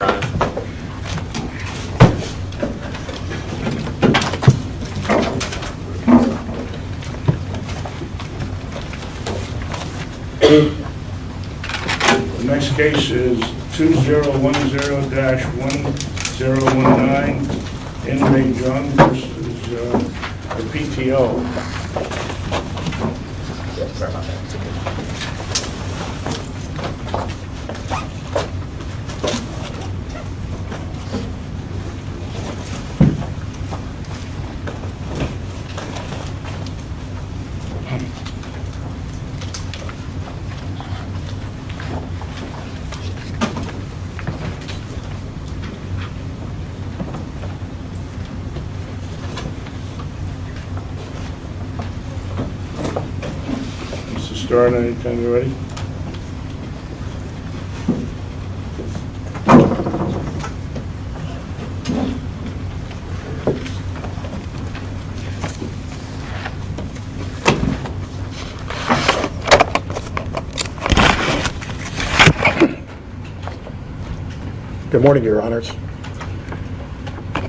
The next case is 2010-1019, Henry Jung, this is the PTO. The case is 2010-1019, Henry Jung. Mr. Stern, any time you're ready. Good morning, your honors.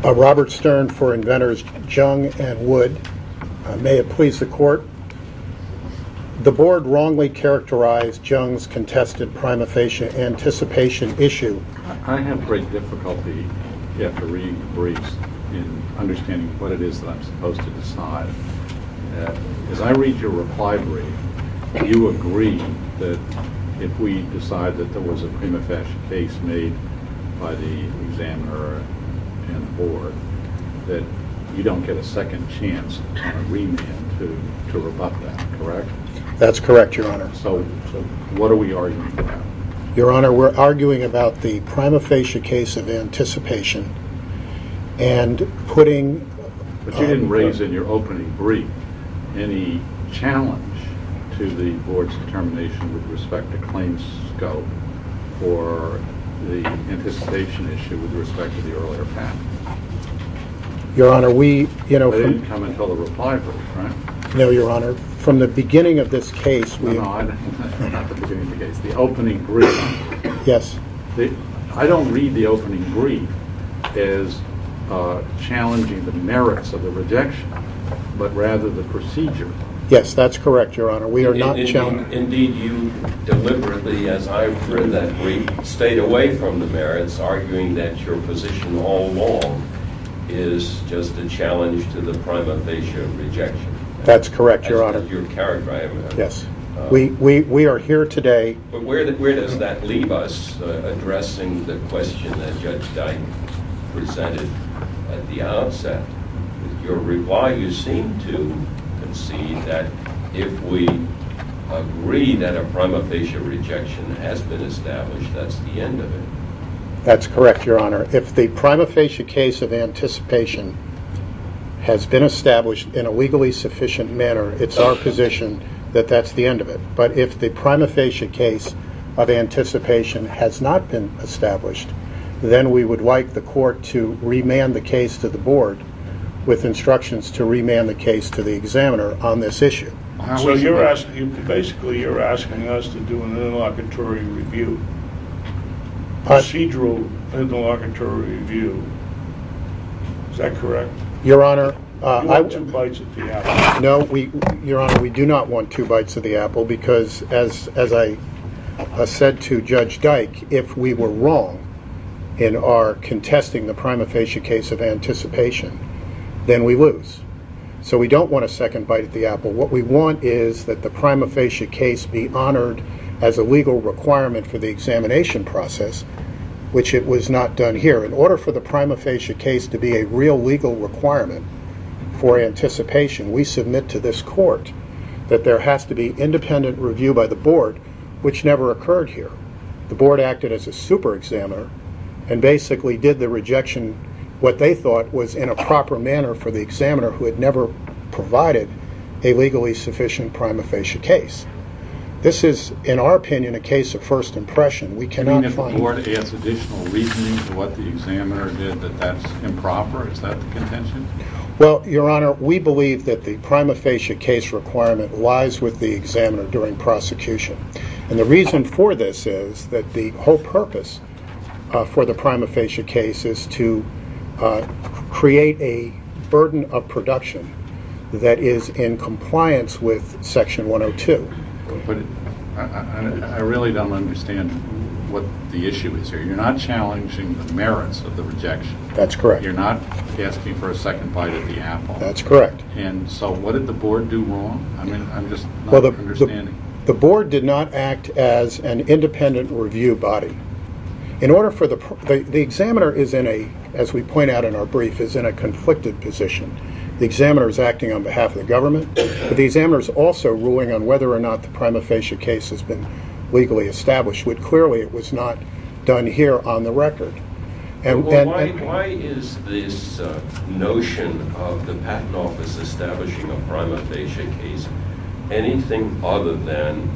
Robert Stern for inventors Jung and Wood. The board wrongly characterized Jung's contested prima facie anticipation issue. I have great difficulty after reading the briefs in understanding what it is that I'm supposed to decide. As I read your reply brief, do you agree that if we decide that there was a prima facie case made by the examiner and the board, that you don't get a second chance on a remand to rebut that, correct? That's correct, your honor. So what are we arguing about? Your honor, we're arguing about the prima facie case of anticipation and putting... But you didn't raise in your opening brief any challenge to the board's determination with respect to claims scope for the anticipation issue with respect to the earlier patent. Your honor, we, you know... They didn't come until the reply brief, right? No, your honor. From the beginning of this case, we... No, no, not the beginning of the case, the opening brief. Yes. I don't read the opening brief as challenging the merits of the rejection, but rather the procedure. Yes, that's correct, your honor. We are not challenging... Indeed, you deliberately, as I read that brief, stayed away from the merits, arguing that your position all along is just a challenge to the prima facie of rejection. That's correct, your honor. That's not your character, I imagine. Yes. We are here today... But where does that leave us, addressing the question that Judge Dyke presented at the outset? Your reply, you seem to concede that if we agree that a prima facie rejection has been established, that's the end of it. That's correct, your honor. If the prima facie case of anticipation has been established in a legally sufficient manner, it's our position that that's the end of it. But if the prima facie case of anticipation has not been established, then we would like the court to remand the case to the board with instructions to remand the case to the examiner on this issue. So you're asking, basically you're asking us to do an interlocutory review, procedural interlocutory review. Is that correct? Your honor... You want two bites of the apple. No, your honor, we do not want two bites of the apple, because as I said to Judge Dyke, if we were wrong in our contesting the prima facie case of anticipation, then we lose. So we don't want a second bite of the apple. What we want is that the prima facie case be honored as a legal requirement for the examination process, which it was not done here. In order for the prima facie case to be a real legal requirement for anticipation, we submit to this court that there has to be independent review by the board, which never occurred here. The board acted as a super examiner and basically did the rejection, what they thought was in a proper manner for the examiner who had never provided a legally sufficient prima facie case. This is, in our opinion, a case of first impression. You mean that the board adds additional reasoning to what the examiner did that that's improper? Is that the contention? Well, your honor, we believe that the prima facie case requirement lies with the examiner during prosecution. And the reason for this is that the whole purpose for the prima facie case is to create a burden of production that is in compliance with section 102. I really don't understand what the issue is here. You're not challenging the merits of the rejection. That's correct. You're not asking for a second bite of the apple. That's correct. And so what did the board do wrong? I'm just not understanding. The board did not act as an independent review body. The examiner, as we point out in our brief, is in a conflicted position. The examiner is acting on behalf of the government, but the examiner is also ruling on whether or not the prima facie case has been legally established, when clearly it was not done here on the record. Why is this notion of the patent office establishing a prima facie case anything other than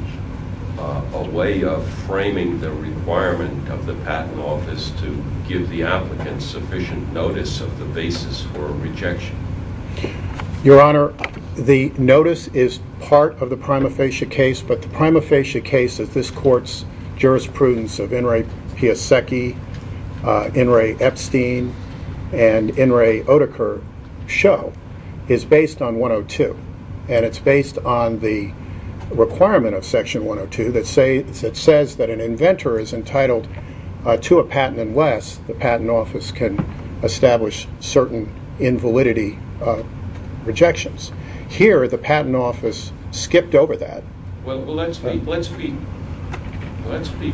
a way of framing the requirement of the patent office to give the applicant sufficient notice of the basis for a rejection? Your Honor, the notice is part of the prima facie case, but the prima facie case of this court's jurisprudence of Enri Piasecki, Enri Epstein, and Enri Oedeker-Show is based on 102. And it's based on the requirement of section 102 that says that an inventor is entitled to a patent unless the patent office can establish certain invalidity rejections. Here, the patent office skipped over that. Well, let's be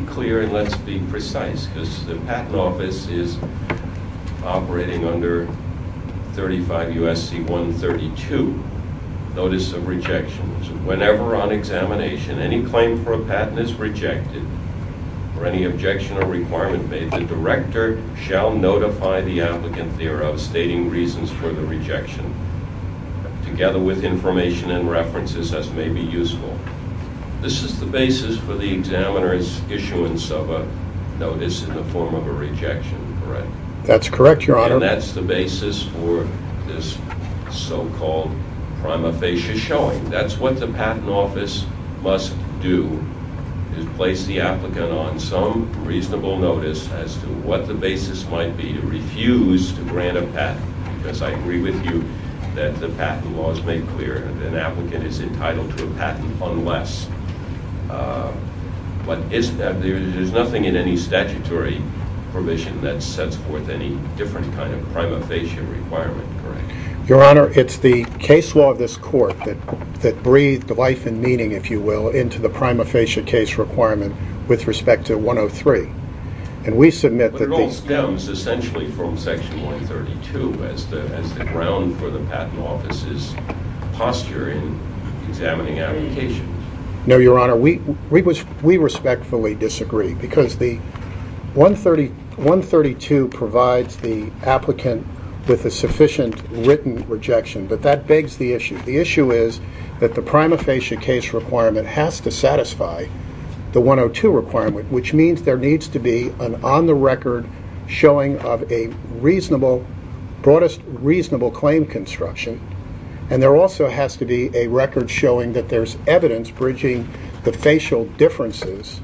clear and let's be precise, because the patent office is operating under 35 U.S.C. 132, Notice of Rejections. Whenever on examination any claim for a patent is rejected or any objection or requirement made, the director shall notify the applicant thereof, stating reasons for the rejection, together with information and references as may be useful. This is the basis for the examiner's issuance of a notice in the form of a rejection, correct? That's correct, Your Honor. And that's the basis for this so-called prima facie showing. That's what the patent office must do, is place the applicant on some reasonable notice as to what the basis might be to refuse to grant a patent, because I agree with you that the patent law is made clear that an applicant is entitled to a patent unless. But there's nothing in any statutory permission that sets forth any different kind of prima facie requirement, correct? Your Honor, it's the case law of this court that breathed life and meaning, if you will, into the prima facie case requirement with respect to 103. But it all stems essentially from Section 132 as the ground for the patent office's posture in examining applications. No, Your Honor, we respectfully disagree, because 132 provides the applicant with a sufficient written rejection, but that begs the issue. The issue is that the prima facie case requirement has to satisfy the 102 requirement, which means there needs to be an on-the-record showing of a broadest reasonable claim construction, and there also has to be a record showing that there's evidence bridging the facial differences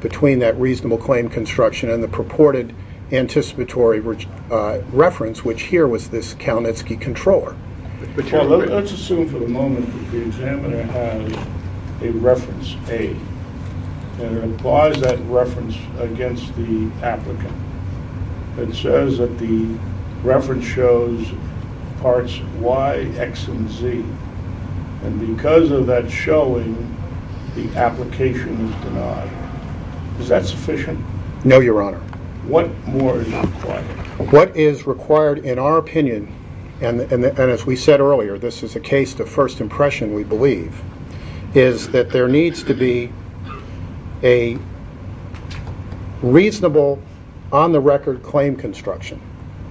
between that reasonable claim construction and the purported anticipatory reference, which here was this Kalinitsky controller. But Your Honor, let's assume for the moment that the examiner has a reference A, and applies that reference against the applicant, and says that the reference shows parts Y, X, and Z, and because of that showing, the application is denied. Is that sufficient? No, Your Honor. What more is required? What is required, in our opinion, and as we said earlier, this is a case to first impression, we believe, is that there needs to be a reasonable on-the-record claim construction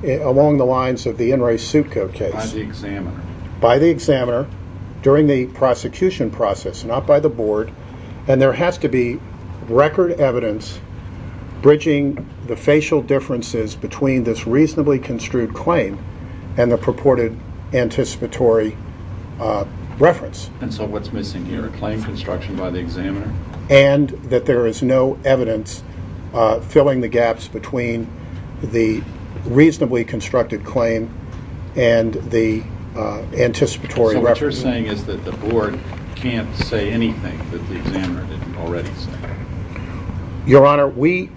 along the lines of the In Re Suit Code case. By the examiner. By the examiner, during the prosecution process, not by the board, and there has to be record evidence bridging the facial differences between this reasonably construed claim and the purported anticipatory reference. And so what's missing here, a claim construction by the examiner? And that there is no evidence filling the gaps between the reasonably constructed claim and the anticipatory reference. So what you're saying is that the board can't say anything that the examiner didn't already say? Your Honor, we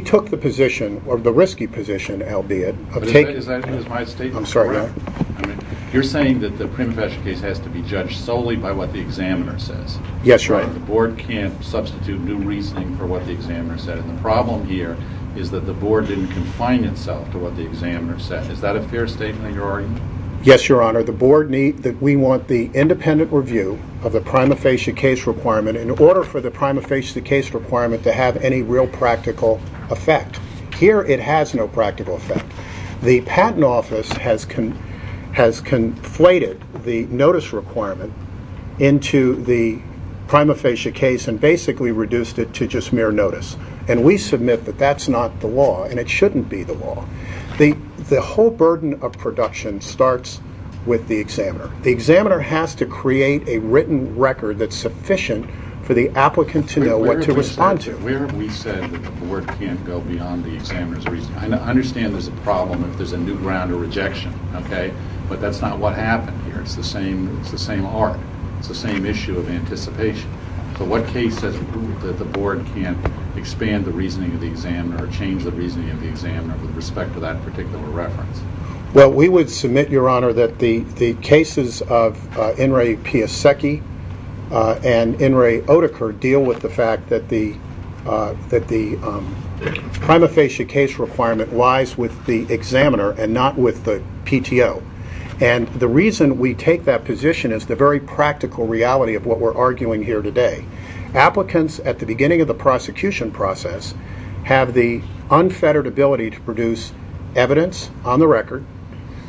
took the position, or the risky position, albeit, of taking... Is my statement correct? I'm sorry, Your Honor. You're saying that the prima facie case has to be judged solely by what the examiner says? Yes, Your Honor. The board can't substitute new reasoning for what the examiner said, and the problem here is that the board didn't confine itself to what the examiner said. Is that a fair statement, Your Honor? Yes, Your Honor. The board needs... we want the independent review of the prima facie case requirement in order for the prima facie case requirement to have any real practical effect. Here, it has no practical effect. The patent office has conflated the notice requirement into the prima facie case and basically reduced it to just mere notice, and we submit that that's not the law and it shouldn't be the law. The whole burden of production starts with the examiner. The examiner has to create a written record that's sufficient for the applicant to know what to respond to. Where have we said that the board can't go beyond the examiner's reasoning? I understand there's a problem if there's a new ground or rejection, okay, but that's not what happened here. It's the same arc. It's the same issue of anticipation. So what case has ruled that the board can't expand the reasoning of the examiner or change the reasoning of the examiner with respect to that particular reference? Well, we would submit, Your Honor, that the cases of Enri Piasecki and Enri Oedeker deal with the fact that the prima facie case requirement lies with the examiner and not with the PTO. And the reason we take that position is the very practical reality of what we're arguing here today. Applicants, at the beginning of the prosecution process, have the unfettered ability to produce evidence on the record.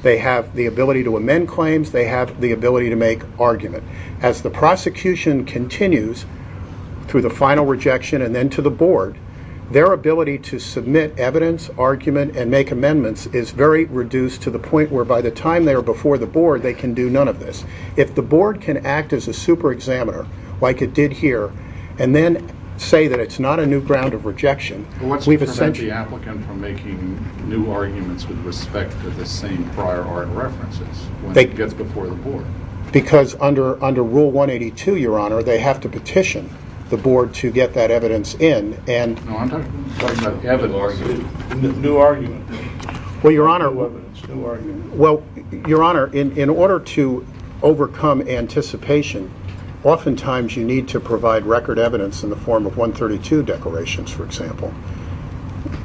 They have the ability to amend claims. They have the ability to make argument. As the prosecution continues through the final rejection and then to the board, their ability to submit evidence, argument, and make amendments is very reduced to the point where by the time they are before the board they can do none of this. If the board can act as a super examiner, like it did here, and then say that it's not a new ground of rejection, we've essentially What's to prevent the applicant from making new arguments with respect to the same prior art references when he gets before the board? Because under Rule 182, Your Honor, they have to petition the board to get that evidence in. No, I'm talking about evidence. New argument. Well, Your Honor, in order to overcome anticipation, oftentimes you need to provide record evidence in the form of 132 declarations, for example.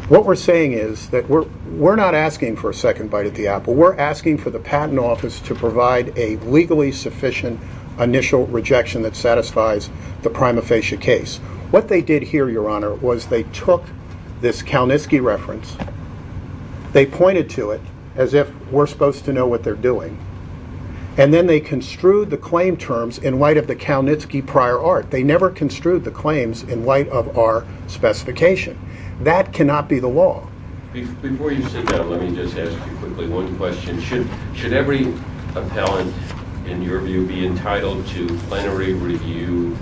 What we're saying is that we're not asking for a second bite at the apple. We're asking for the Patent Office to provide a legally sufficient initial rejection that satisfies the prima facie case. What they did here, Your Honor, was they took this Kalnitzky reference, they pointed to it as if we're supposed to know what they're doing, and then they construed the claim terms in light of the Kalnitzky prior art. They never construed the claims in light of our specification. That cannot be the law. Before you sit down, let me just ask you quickly one question. Should every appellant, in your view, be entitled to plenary review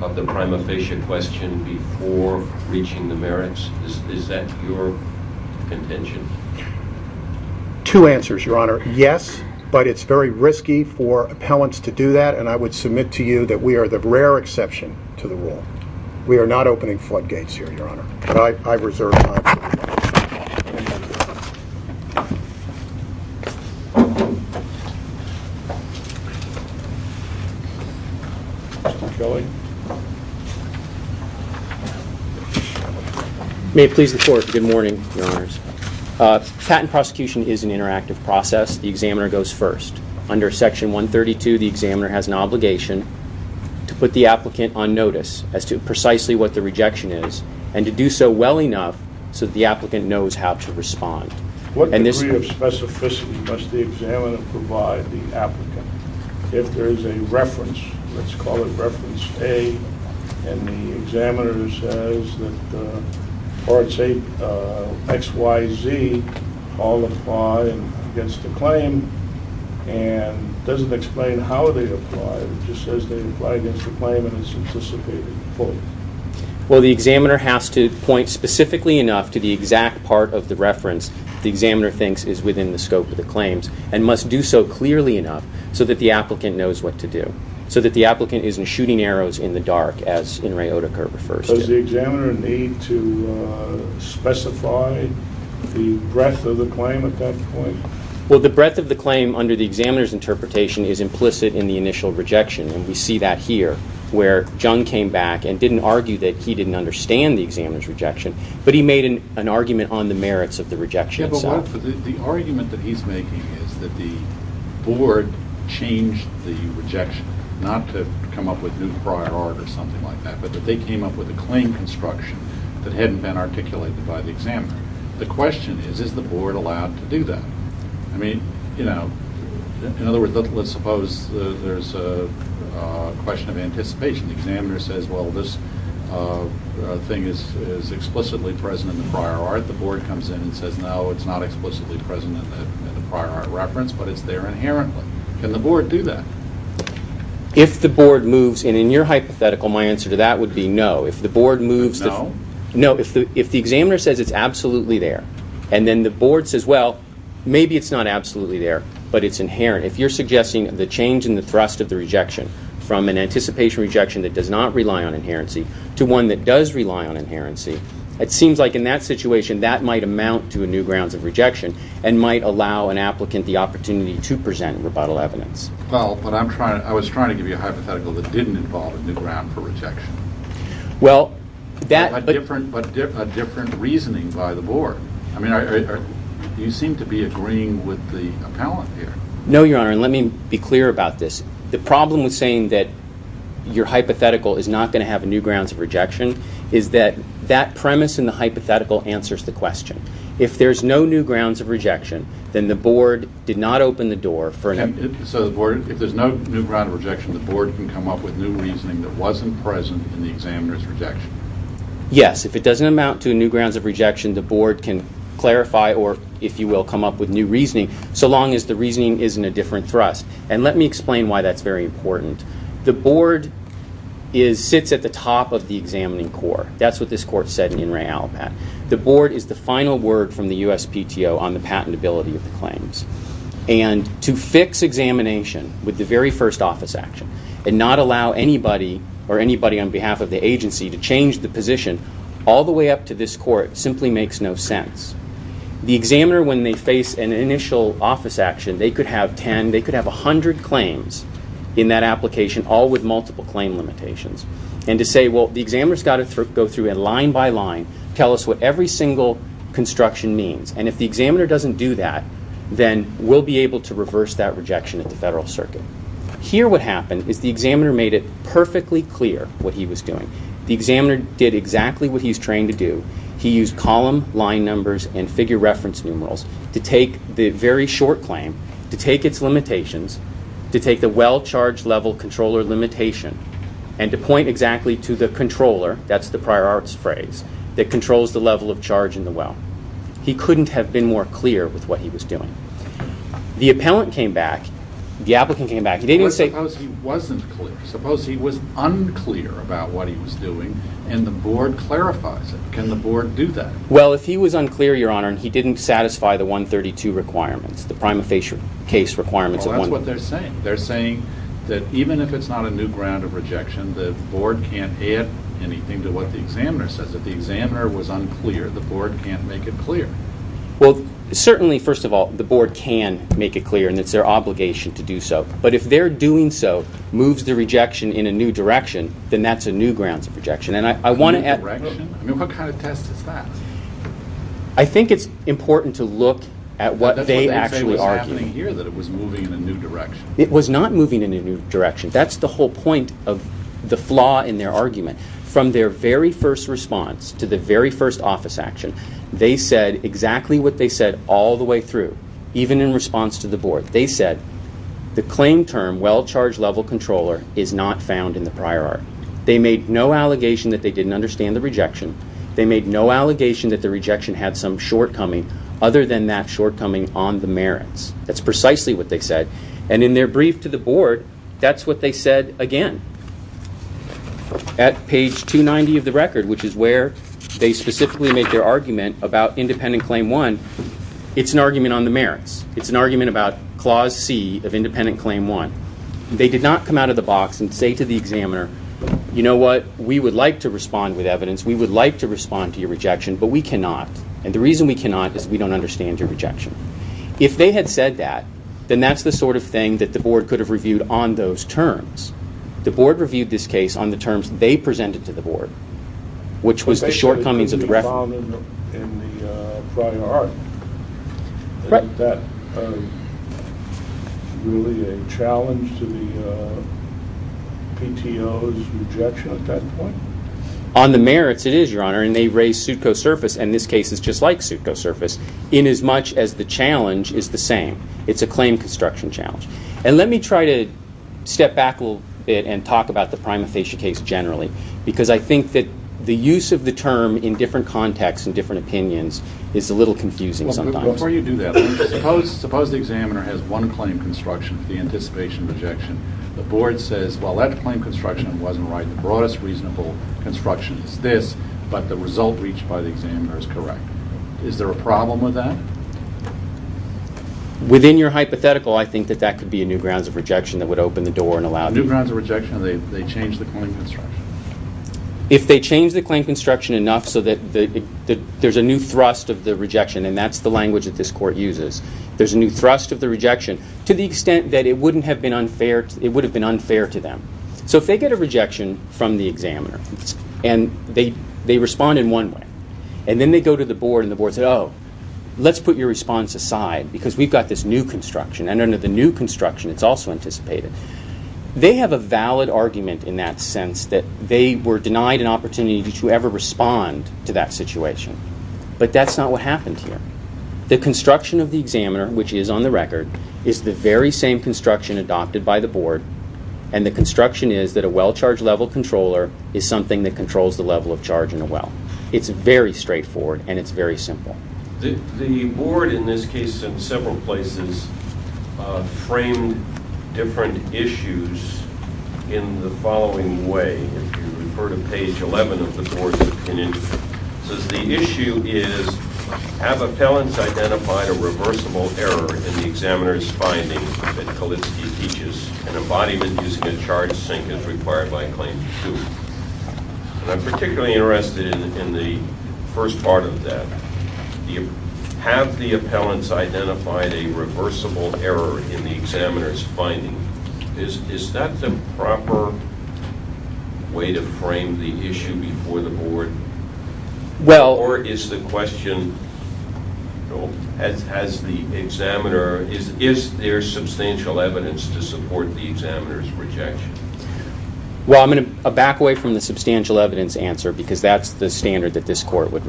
of the prima facie question before reaching the merits? Is that your contention? Two answers, Your Honor. Yes, but it's very risky for appellants to do that, and I would submit to you that we are the rare exception to the rule. We are not opening floodgates here, Your Honor. I reserve my time. May it please the Court. Good morning, Your Honors. Patent prosecution is an interactive process. The examiner goes first. Under Section 132, the examiner has an obligation to put the applicant on notice as to precisely what the rejection is, and to do so well enough so that the applicant knows how to respond. What degree of specificity must the examiner provide the applicant? If there is a reference, let's call it reference A, and the examiner says that parts X, Y, Z all apply against the claim and doesn't explain how they apply, it just says they apply against the claim and it's anticipated fully. Well, the examiner has to point specifically enough to the exact part of the reference the examiner thinks is within the scope of the claims, and must do so clearly enough so that the applicant knows what to do, so that the applicant isn't shooting arrows in the dark, as Inrei Otaker refers to. Does the examiner need to specify the breadth of the claim at that point? Well, the breadth of the claim under the examiner's interpretation is implicit in the initial rejection, and we see that here, where Jung came back and didn't argue that he didn't understand the examiner's rejection, but he made an argument on the merits of the rejection itself. The argument that he's making is that the board changed the rejection, not to come up with new prior art or something like that, but that they came up with a claim construction that hadn't been articulated by the examiner. The question is, is the board allowed to do that? I mean, you know, in other words, let's suppose there's a question of anticipation. The examiner says, well, this thing is explicitly present in the prior art. The board comes in and says, no, it's not explicitly present in the prior art reference, but it's there inherently. Can the board do that? If the board moves, and in your hypothetical, my answer to that would be no. No? No, if the examiner says it's absolutely there, and then the board says, well, maybe it's not absolutely there, but it's inherent. If you're suggesting the change in the thrust of the rejection from an anticipation rejection that does not rely on inherency to one that does rely on inherency, it seems like in that situation that might amount to a new grounds of rejection and might allow an applicant the opportunity to present rebuttal evidence. Well, but I was trying to give you a hypothetical that didn't involve a new ground for rejection. Well, that But a different reasoning by the board. I mean, you seem to be agreeing with the appellant here. No, Your Honor, and let me be clear about this. The problem with saying that your hypothetical is not going to have a new grounds of rejection is that that premise in the hypothetical answers the question. If there's no new grounds of rejection, then the board did not open the door for So the board, if there's no new ground of rejection, the board can come up with new reasoning that wasn't present in the examiner's rejection. Yes, if it doesn't amount to a new grounds of rejection, the board can clarify or, if you will, come up with new reasoning, so long as the reasoning is in a different thrust. And let me explain why that's very important. The board sits at the top of the examining court. That's what this court said in In Re Alpat. The board is the final word from the USPTO on the patentability of the claims. And to fix examination with the very first office action and not allow anybody or anybody on behalf of the agency to change the position all the way up to this court simply makes no sense. The examiner, when they face an initial office action, they could have 10, they could have 100 claims in that application, all with multiple claim limitations. And to say, well, the examiner's got to go through it line by line, tell us what every single construction means. And if the examiner doesn't do that, then we'll be able to reverse that rejection at the federal circuit. Here what happened is the examiner made it perfectly clear what he was doing. The examiner did exactly what he's trained to do. He used column line numbers and figure reference numerals to take the very short claim, to take its limitations, to take the well charge level controller limitation, and to point exactly to the controller, that's the prior arts phrase, that controls the level of charge in the well. He couldn't have been more clear with what he was doing. The appellant came back, the applicant came back, he didn't say... But suppose he wasn't clear. Suppose he was unclear about what he was doing, and the board clarifies it. Can the board do that? Well, if he was unclear, Your Honor, and he didn't satisfy the 132 requirements, the prima facie case requirements... Well, that's what they're saying. They're saying that even if it's not a new ground of rejection, the board can't add anything to what the examiner says. If the examiner was unclear, the board can't make it clear. Well, certainly, first of all, the board can make it clear, and it's their obligation to do so. But if their doing so moves the rejection in a new direction, then that's a new ground of rejection. A new direction? I mean, what kind of test is that? I think it's important to look at what they actually argue. That's what they say was happening here, that it was moving in a new direction. It was not moving in a new direction. That's the whole point of the flaw in their argument. From their very first response to the very first office action, they said exactly what they said all the way through, even in response to the board. They said the claim term, well-charged level controller, is not found in the prior art. They made no allegation that they didn't understand the rejection. They made no allegation that the rejection had some shortcoming other than that shortcoming on the merits. That's precisely what they said. And in their brief to the board, that's what they said again. At page 290 of the record, which is where they specifically make their argument about independent claim one, it's an argument on the merits. It's an argument about clause C of independent claim one. They did not come out of the box and say to the examiner, you know what, we would like to respond with evidence. We would like to respond to your rejection, but we cannot. And the reason we cannot is we don't understand your rejection. If they had said that, then that's the sort of thing that the board could have reviewed on those terms. The board reviewed this case on the terms they presented to the board, which was the shortcomings of the reference. But they said it couldn't be found in the prior art. Right. Isn't that really a challenge to the PTO's rejection at that point? On the merits, it is, Your Honor. And they raised pseudcosurface, and this case is just like pseudcosurface, inasmuch as the challenge is the same. It's a claim construction challenge. And let me try to step back a little bit and talk about the prima facie case generally, because I think that the use of the term in different contexts and different opinions is a little confusing sometimes. Before you do that, suppose the examiner has one claim construction for the anticipation of rejection. The board says, well, that claim construction wasn't right. The broadest reasonable construction is this, but the result reached by the examiner is correct. Is there a problem with that? Within your hypothetical, I think that that could be a new grounds of rejection that would open the door and allow the... New grounds of rejection if they change the claim construction. If they change the claim construction enough so that there's a new thrust of the rejection, and that's the language that this Court uses, there's a new thrust of the rejection to the extent that it would have been unfair to them. So if they get a rejection from the examiner and they respond in one way, and then they go to the board and the board says, oh, let's put your response aside because we've got this new construction, and under the new construction it's also anticipated, they have a valid argument in that sense that they were denied an opportunity to ever respond to that situation. But that's not what happened here. The construction of the examiner, which is on the record, is the very same construction adopted by the board, and the construction is that a well charge level controller is something that controls the level of charge in a well. It's very straightforward and it's very simple. The board in this case, in several places, framed different issues in the following way. If you refer to page 11 of the board's opinion, it says the issue is, have appellants identified a reversible error in the examiner's findings that Kalitsky teaches in embodiment using a charged sink as required by Claim 2? I'm particularly interested in the first part of that. Have the appellants identified a reversible error in the examiner's findings? Is that the proper way to frame the issue before the board? Or is the question, is there substantial evidence to support the examiner's rejection? Well, I'm going to back away from the substantial evidence answer because that's the standard that this court would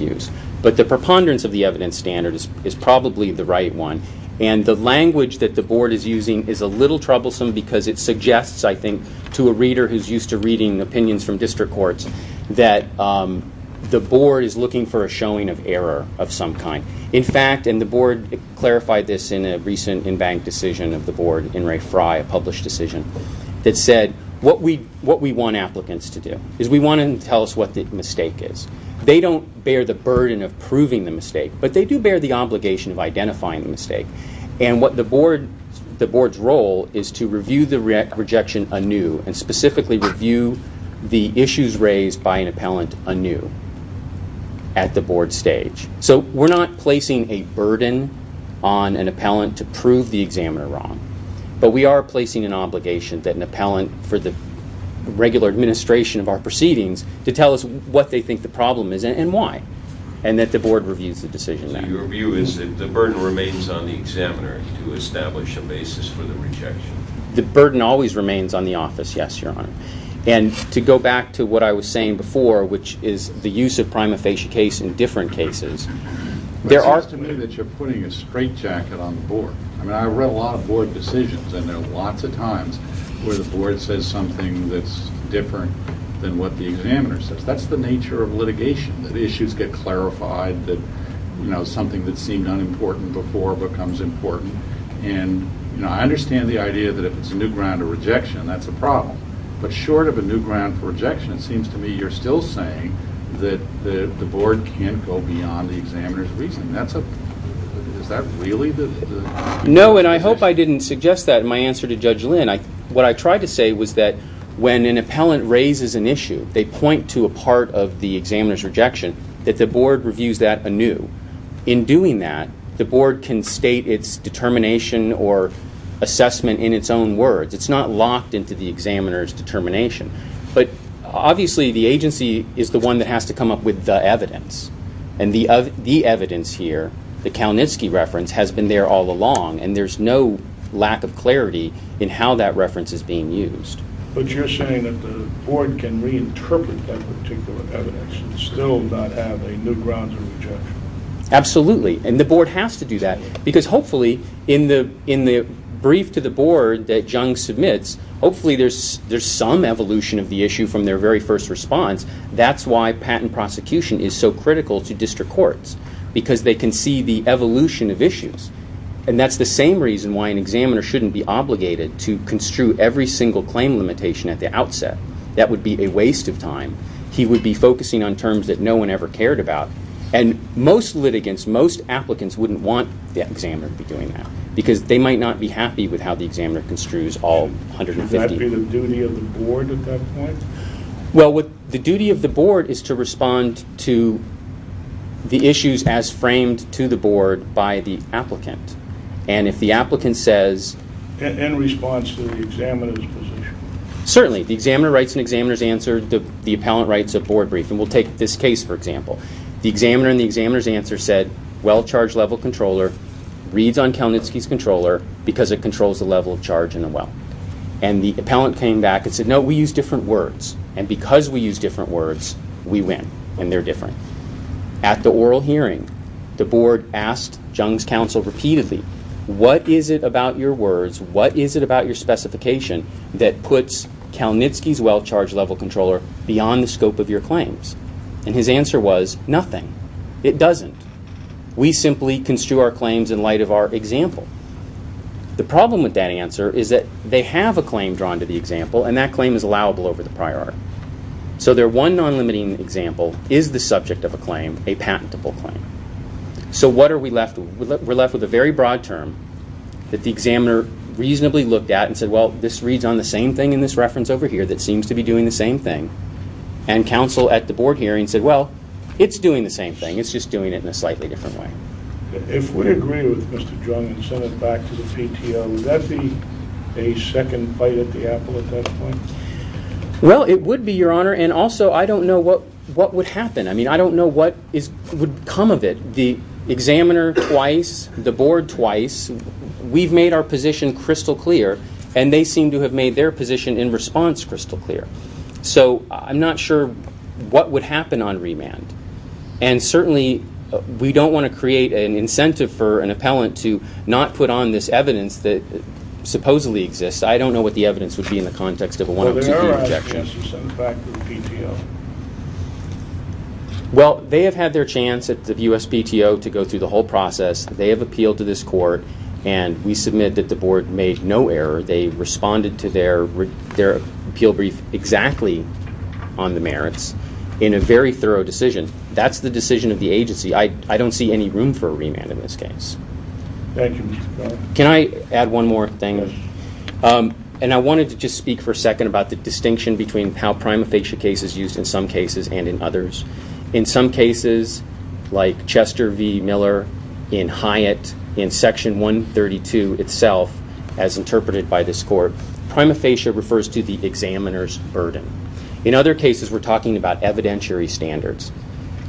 use. But the preponderance of the evidence standard is probably the right one, and the language that the board is using is a little troublesome because it suggests, I think, to a reader who's used to reading opinions from district courts that the board is looking for a showing of error of some kind. In fact, and the board clarified this in a recent in-bank decision of the board, in Ray Fry, a published decision, that said what we want applicants to do is we want them to tell us what the mistake is. They don't bear the burden of proving the mistake, but they do bear the obligation of identifying the mistake. And the board's role is to review the rejection anew and specifically review the issues raised by an appellant anew at the board stage. So we're not placing a burden on an appellant to prove the examiner wrong, but we are placing an obligation that an appellant for the regular administration of our proceedings to tell us what they think the problem is and why, and that the board reviews the decision. So your view is that the burden remains on the examiner to establish a basis for the rejection? The burden always remains on the office, yes, Your Honor. And to go back to what I was saying before, which is the use of prima facie case in different cases, there are... I mean, I read a lot of board decisions, and there are lots of times where the board says something that's different than what the examiner says. That's the nature of litigation, that issues get clarified, that something that seemed unimportant before becomes important. And I understand the idea that if it's a new ground to rejection, that's a problem. But short of a new ground for rejection, it seems to me you're still saying that the board can't go beyond the examiner's reasoning. Is that really the... No, and I hope I didn't suggest that in my answer to Judge Lynn. What I tried to say was that when an appellant raises an issue, they point to a part of the examiner's rejection, that the board reviews that anew. In doing that, the board can state its determination or assessment in its own words. It's not locked into the examiner's determination. But obviously the agency is the one that has to come up with the evidence. And the evidence here, the Kalnitsky reference, has been there all along, and there's no lack of clarity in how that reference is being used. But you're saying that the board can reinterpret that particular evidence and still not have a new ground for rejection. Absolutely, and the board has to do that, because hopefully in the brief to the board that Jung submits, hopefully there's some evolution of the issue from their very first response. That's why patent prosecution is so critical to district courts, because they can see the evolution of issues. And that's the same reason why an examiner shouldn't be obligated to construe every single claim limitation at the outset. That would be a waste of time. He would be focusing on terms that no one ever cared about. And most litigants, most applicants, wouldn't want the examiner to be doing that, because they might not be happy with how the examiner construes all 150. Would that be the duty of the board at that point? Well, the duty of the board is to respond to the issues as framed to the board by the applicant. And if the applicant says... In response to the examiner's position. Certainly. The examiner writes an examiner's answer. The appellant writes a board brief. And we'll take this case, for example. The examiner in the examiner's answer said, well charge level controller reads on Kalnitsky's controller because it controls the level of charge in the well. And the appellant came back and said, no, we use different words. And because we use different words, we win. And they're different. At the oral hearing, the board asked Jung's counsel repeatedly, what is it about your words, what is it about your specification that puts Kalnitsky's well charge level controller beyond the scope of your claims? And his answer was, nothing. It doesn't. We simply construe our claims in light of our example. The problem with that answer is that they have a claim drawn to the example and that claim is allowable over the prior. So their one non-limiting example is the subject of a claim, a patentable claim. So what are we left with? We're left with a very broad term that the examiner reasonably looked at and said, well, this reads on the same thing in this reference over here that seems to be doing the same thing. And counsel at the board hearing said, well, it's doing the same thing. It's just doing it in a slightly different way. If we agree with Mr. Jung and send it back to the PTO, would that be a second fight at the apple at that point? Well, it would be, Your Honor. And also, I don't know what would happen. I mean, I don't know what would come of it. The examiner twice, the board twice. We've made our position crystal clear and they seem to have made their position in response crystal clear. So I'm not sure what would happen on remand. And certainly, we don't want to create an incentive for an appellant to not put on this evidence that supposedly exists. I don't know what the evidence would be in the context of a one-up two-three rejection. Well, they have had their chance at the U.S. PTO to go through the whole process. They have appealed to this court and we submit that the board made no error. They responded to their appeal brief exactly on the merits in a very thorough decision. That's the decision of the agency. I don't see any room for a remand in this case. Thank you. Can I add one more thing? And I wanted to just speak for a second about the distinction between how prima facie cases used in some cases and in others. In some cases, like Chester v. Miller in Hyatt, in section 132 itself, as interpreted by this court, prima facie refers to the examiner's burden. In other cases, we're talking about evidentiary standards.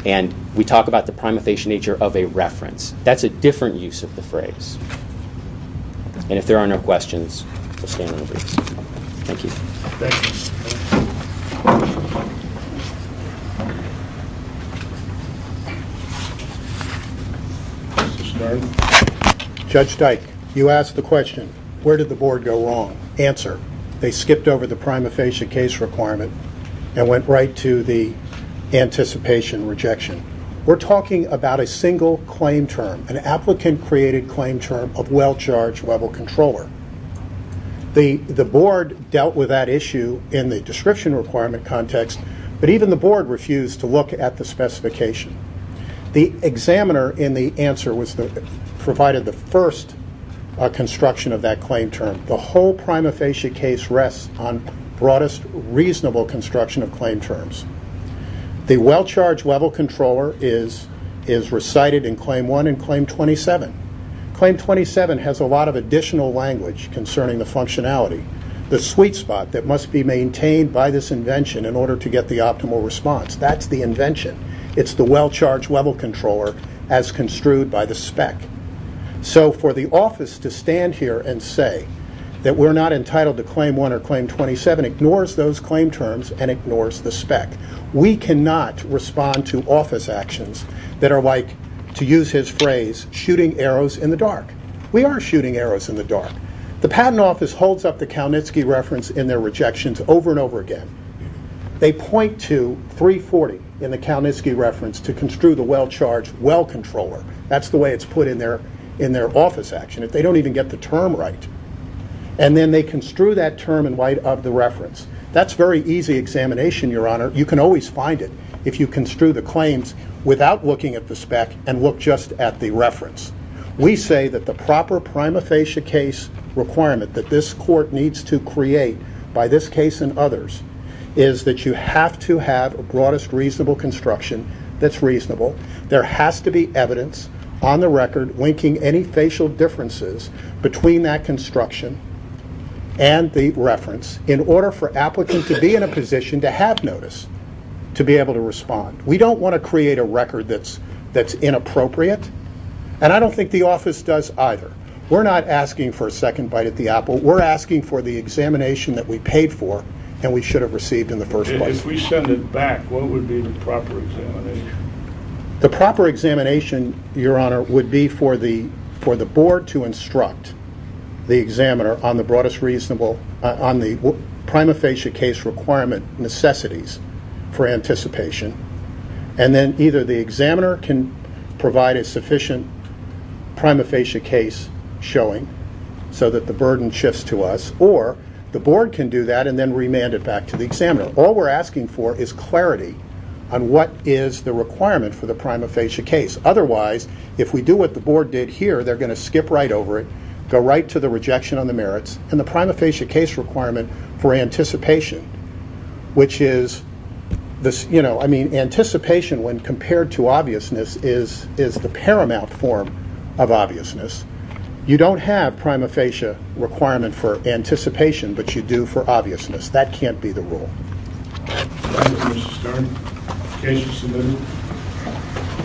And we talk about the prima facie nature of a reference. That's a different use of the phrase. And if there are no questions, we'll stand on the briefs. Thank you. Judge Dike, you asked the question, where did the board go wrong? Answer, they skipped over the prima facie case requirement and went right to the anticipation rejection. We're talking about a single claim term, an applicant-created claim term of well-charged level controller. The board dealt with that issue in the description requirement context, but even the board refused to look at the specification. The examiner in the answer provided the first construction of that claim term. The whole prima facie case rests on broadest, reasonable construction of claim terms. The well-charged level controller is recited in Claim 1 and Claim 27. Claim 27 has a lot of additional language concerning the functionality. The sweet spot that must be maintained by this invention in order to get the optimal response, that's the invention. It's the well-charged level controller as construed by the spec. So for the office to stand here and say that we're not entitled to Claim 1 or Claim 27 ignores those we cannot respond to office actions that are like to use his phrase, shooting arrows in the dark. We are shooting arrows in the dark. The Patent Office holds up the Kalnitzky reference in their rejections over and over again. They point to 340 in the Kalnitzky reference to construe the well-charged well controller. That's the way it's put in their office action. If they don't even get the term right and then they construe that term in light of the reference. That's very easy examination, Your Honor. You can always find it if you construe the claims without looking at the spec and look just at the reference. We say that the proper prima facie case requirement that this court needs to create by this case and others is that you have to have a broadest reasonable construction that's reasonable. There has to be evidence on the record linking any facial differences between that construction and the reference in order for applicants to be in a position to have notice to be able to respond. We don't want to create a record that's inappropriate and I don't think the office does either. We're not asking for a second bite at the apple. We're asking for the examination that we paid for and we should have received in the first place. If we send it back, what would be the proper examination? The proper examination, Your Honor, would be for the board to determine on the prima facie case requirement necessities for anticipation and then either the examiner can provide a sufficient prima facie case showing so that the burden shifts to us or the board can do that and then remand it back to the examiner. All we're asking for is clarity on what is the requirement for the prima facie case. Otherwise, if we do what the board did here, they're going to skip right over it, go right to the rejection on the merits and the prima facie case requirement for anticipation which is anticipation when compared to obviousness is the paramount form of obviousness. You don't have prima facie requirement for anticipation but you do for obviousness. That can't be the rule. Thank you, Mr. Stern. Case is submitted.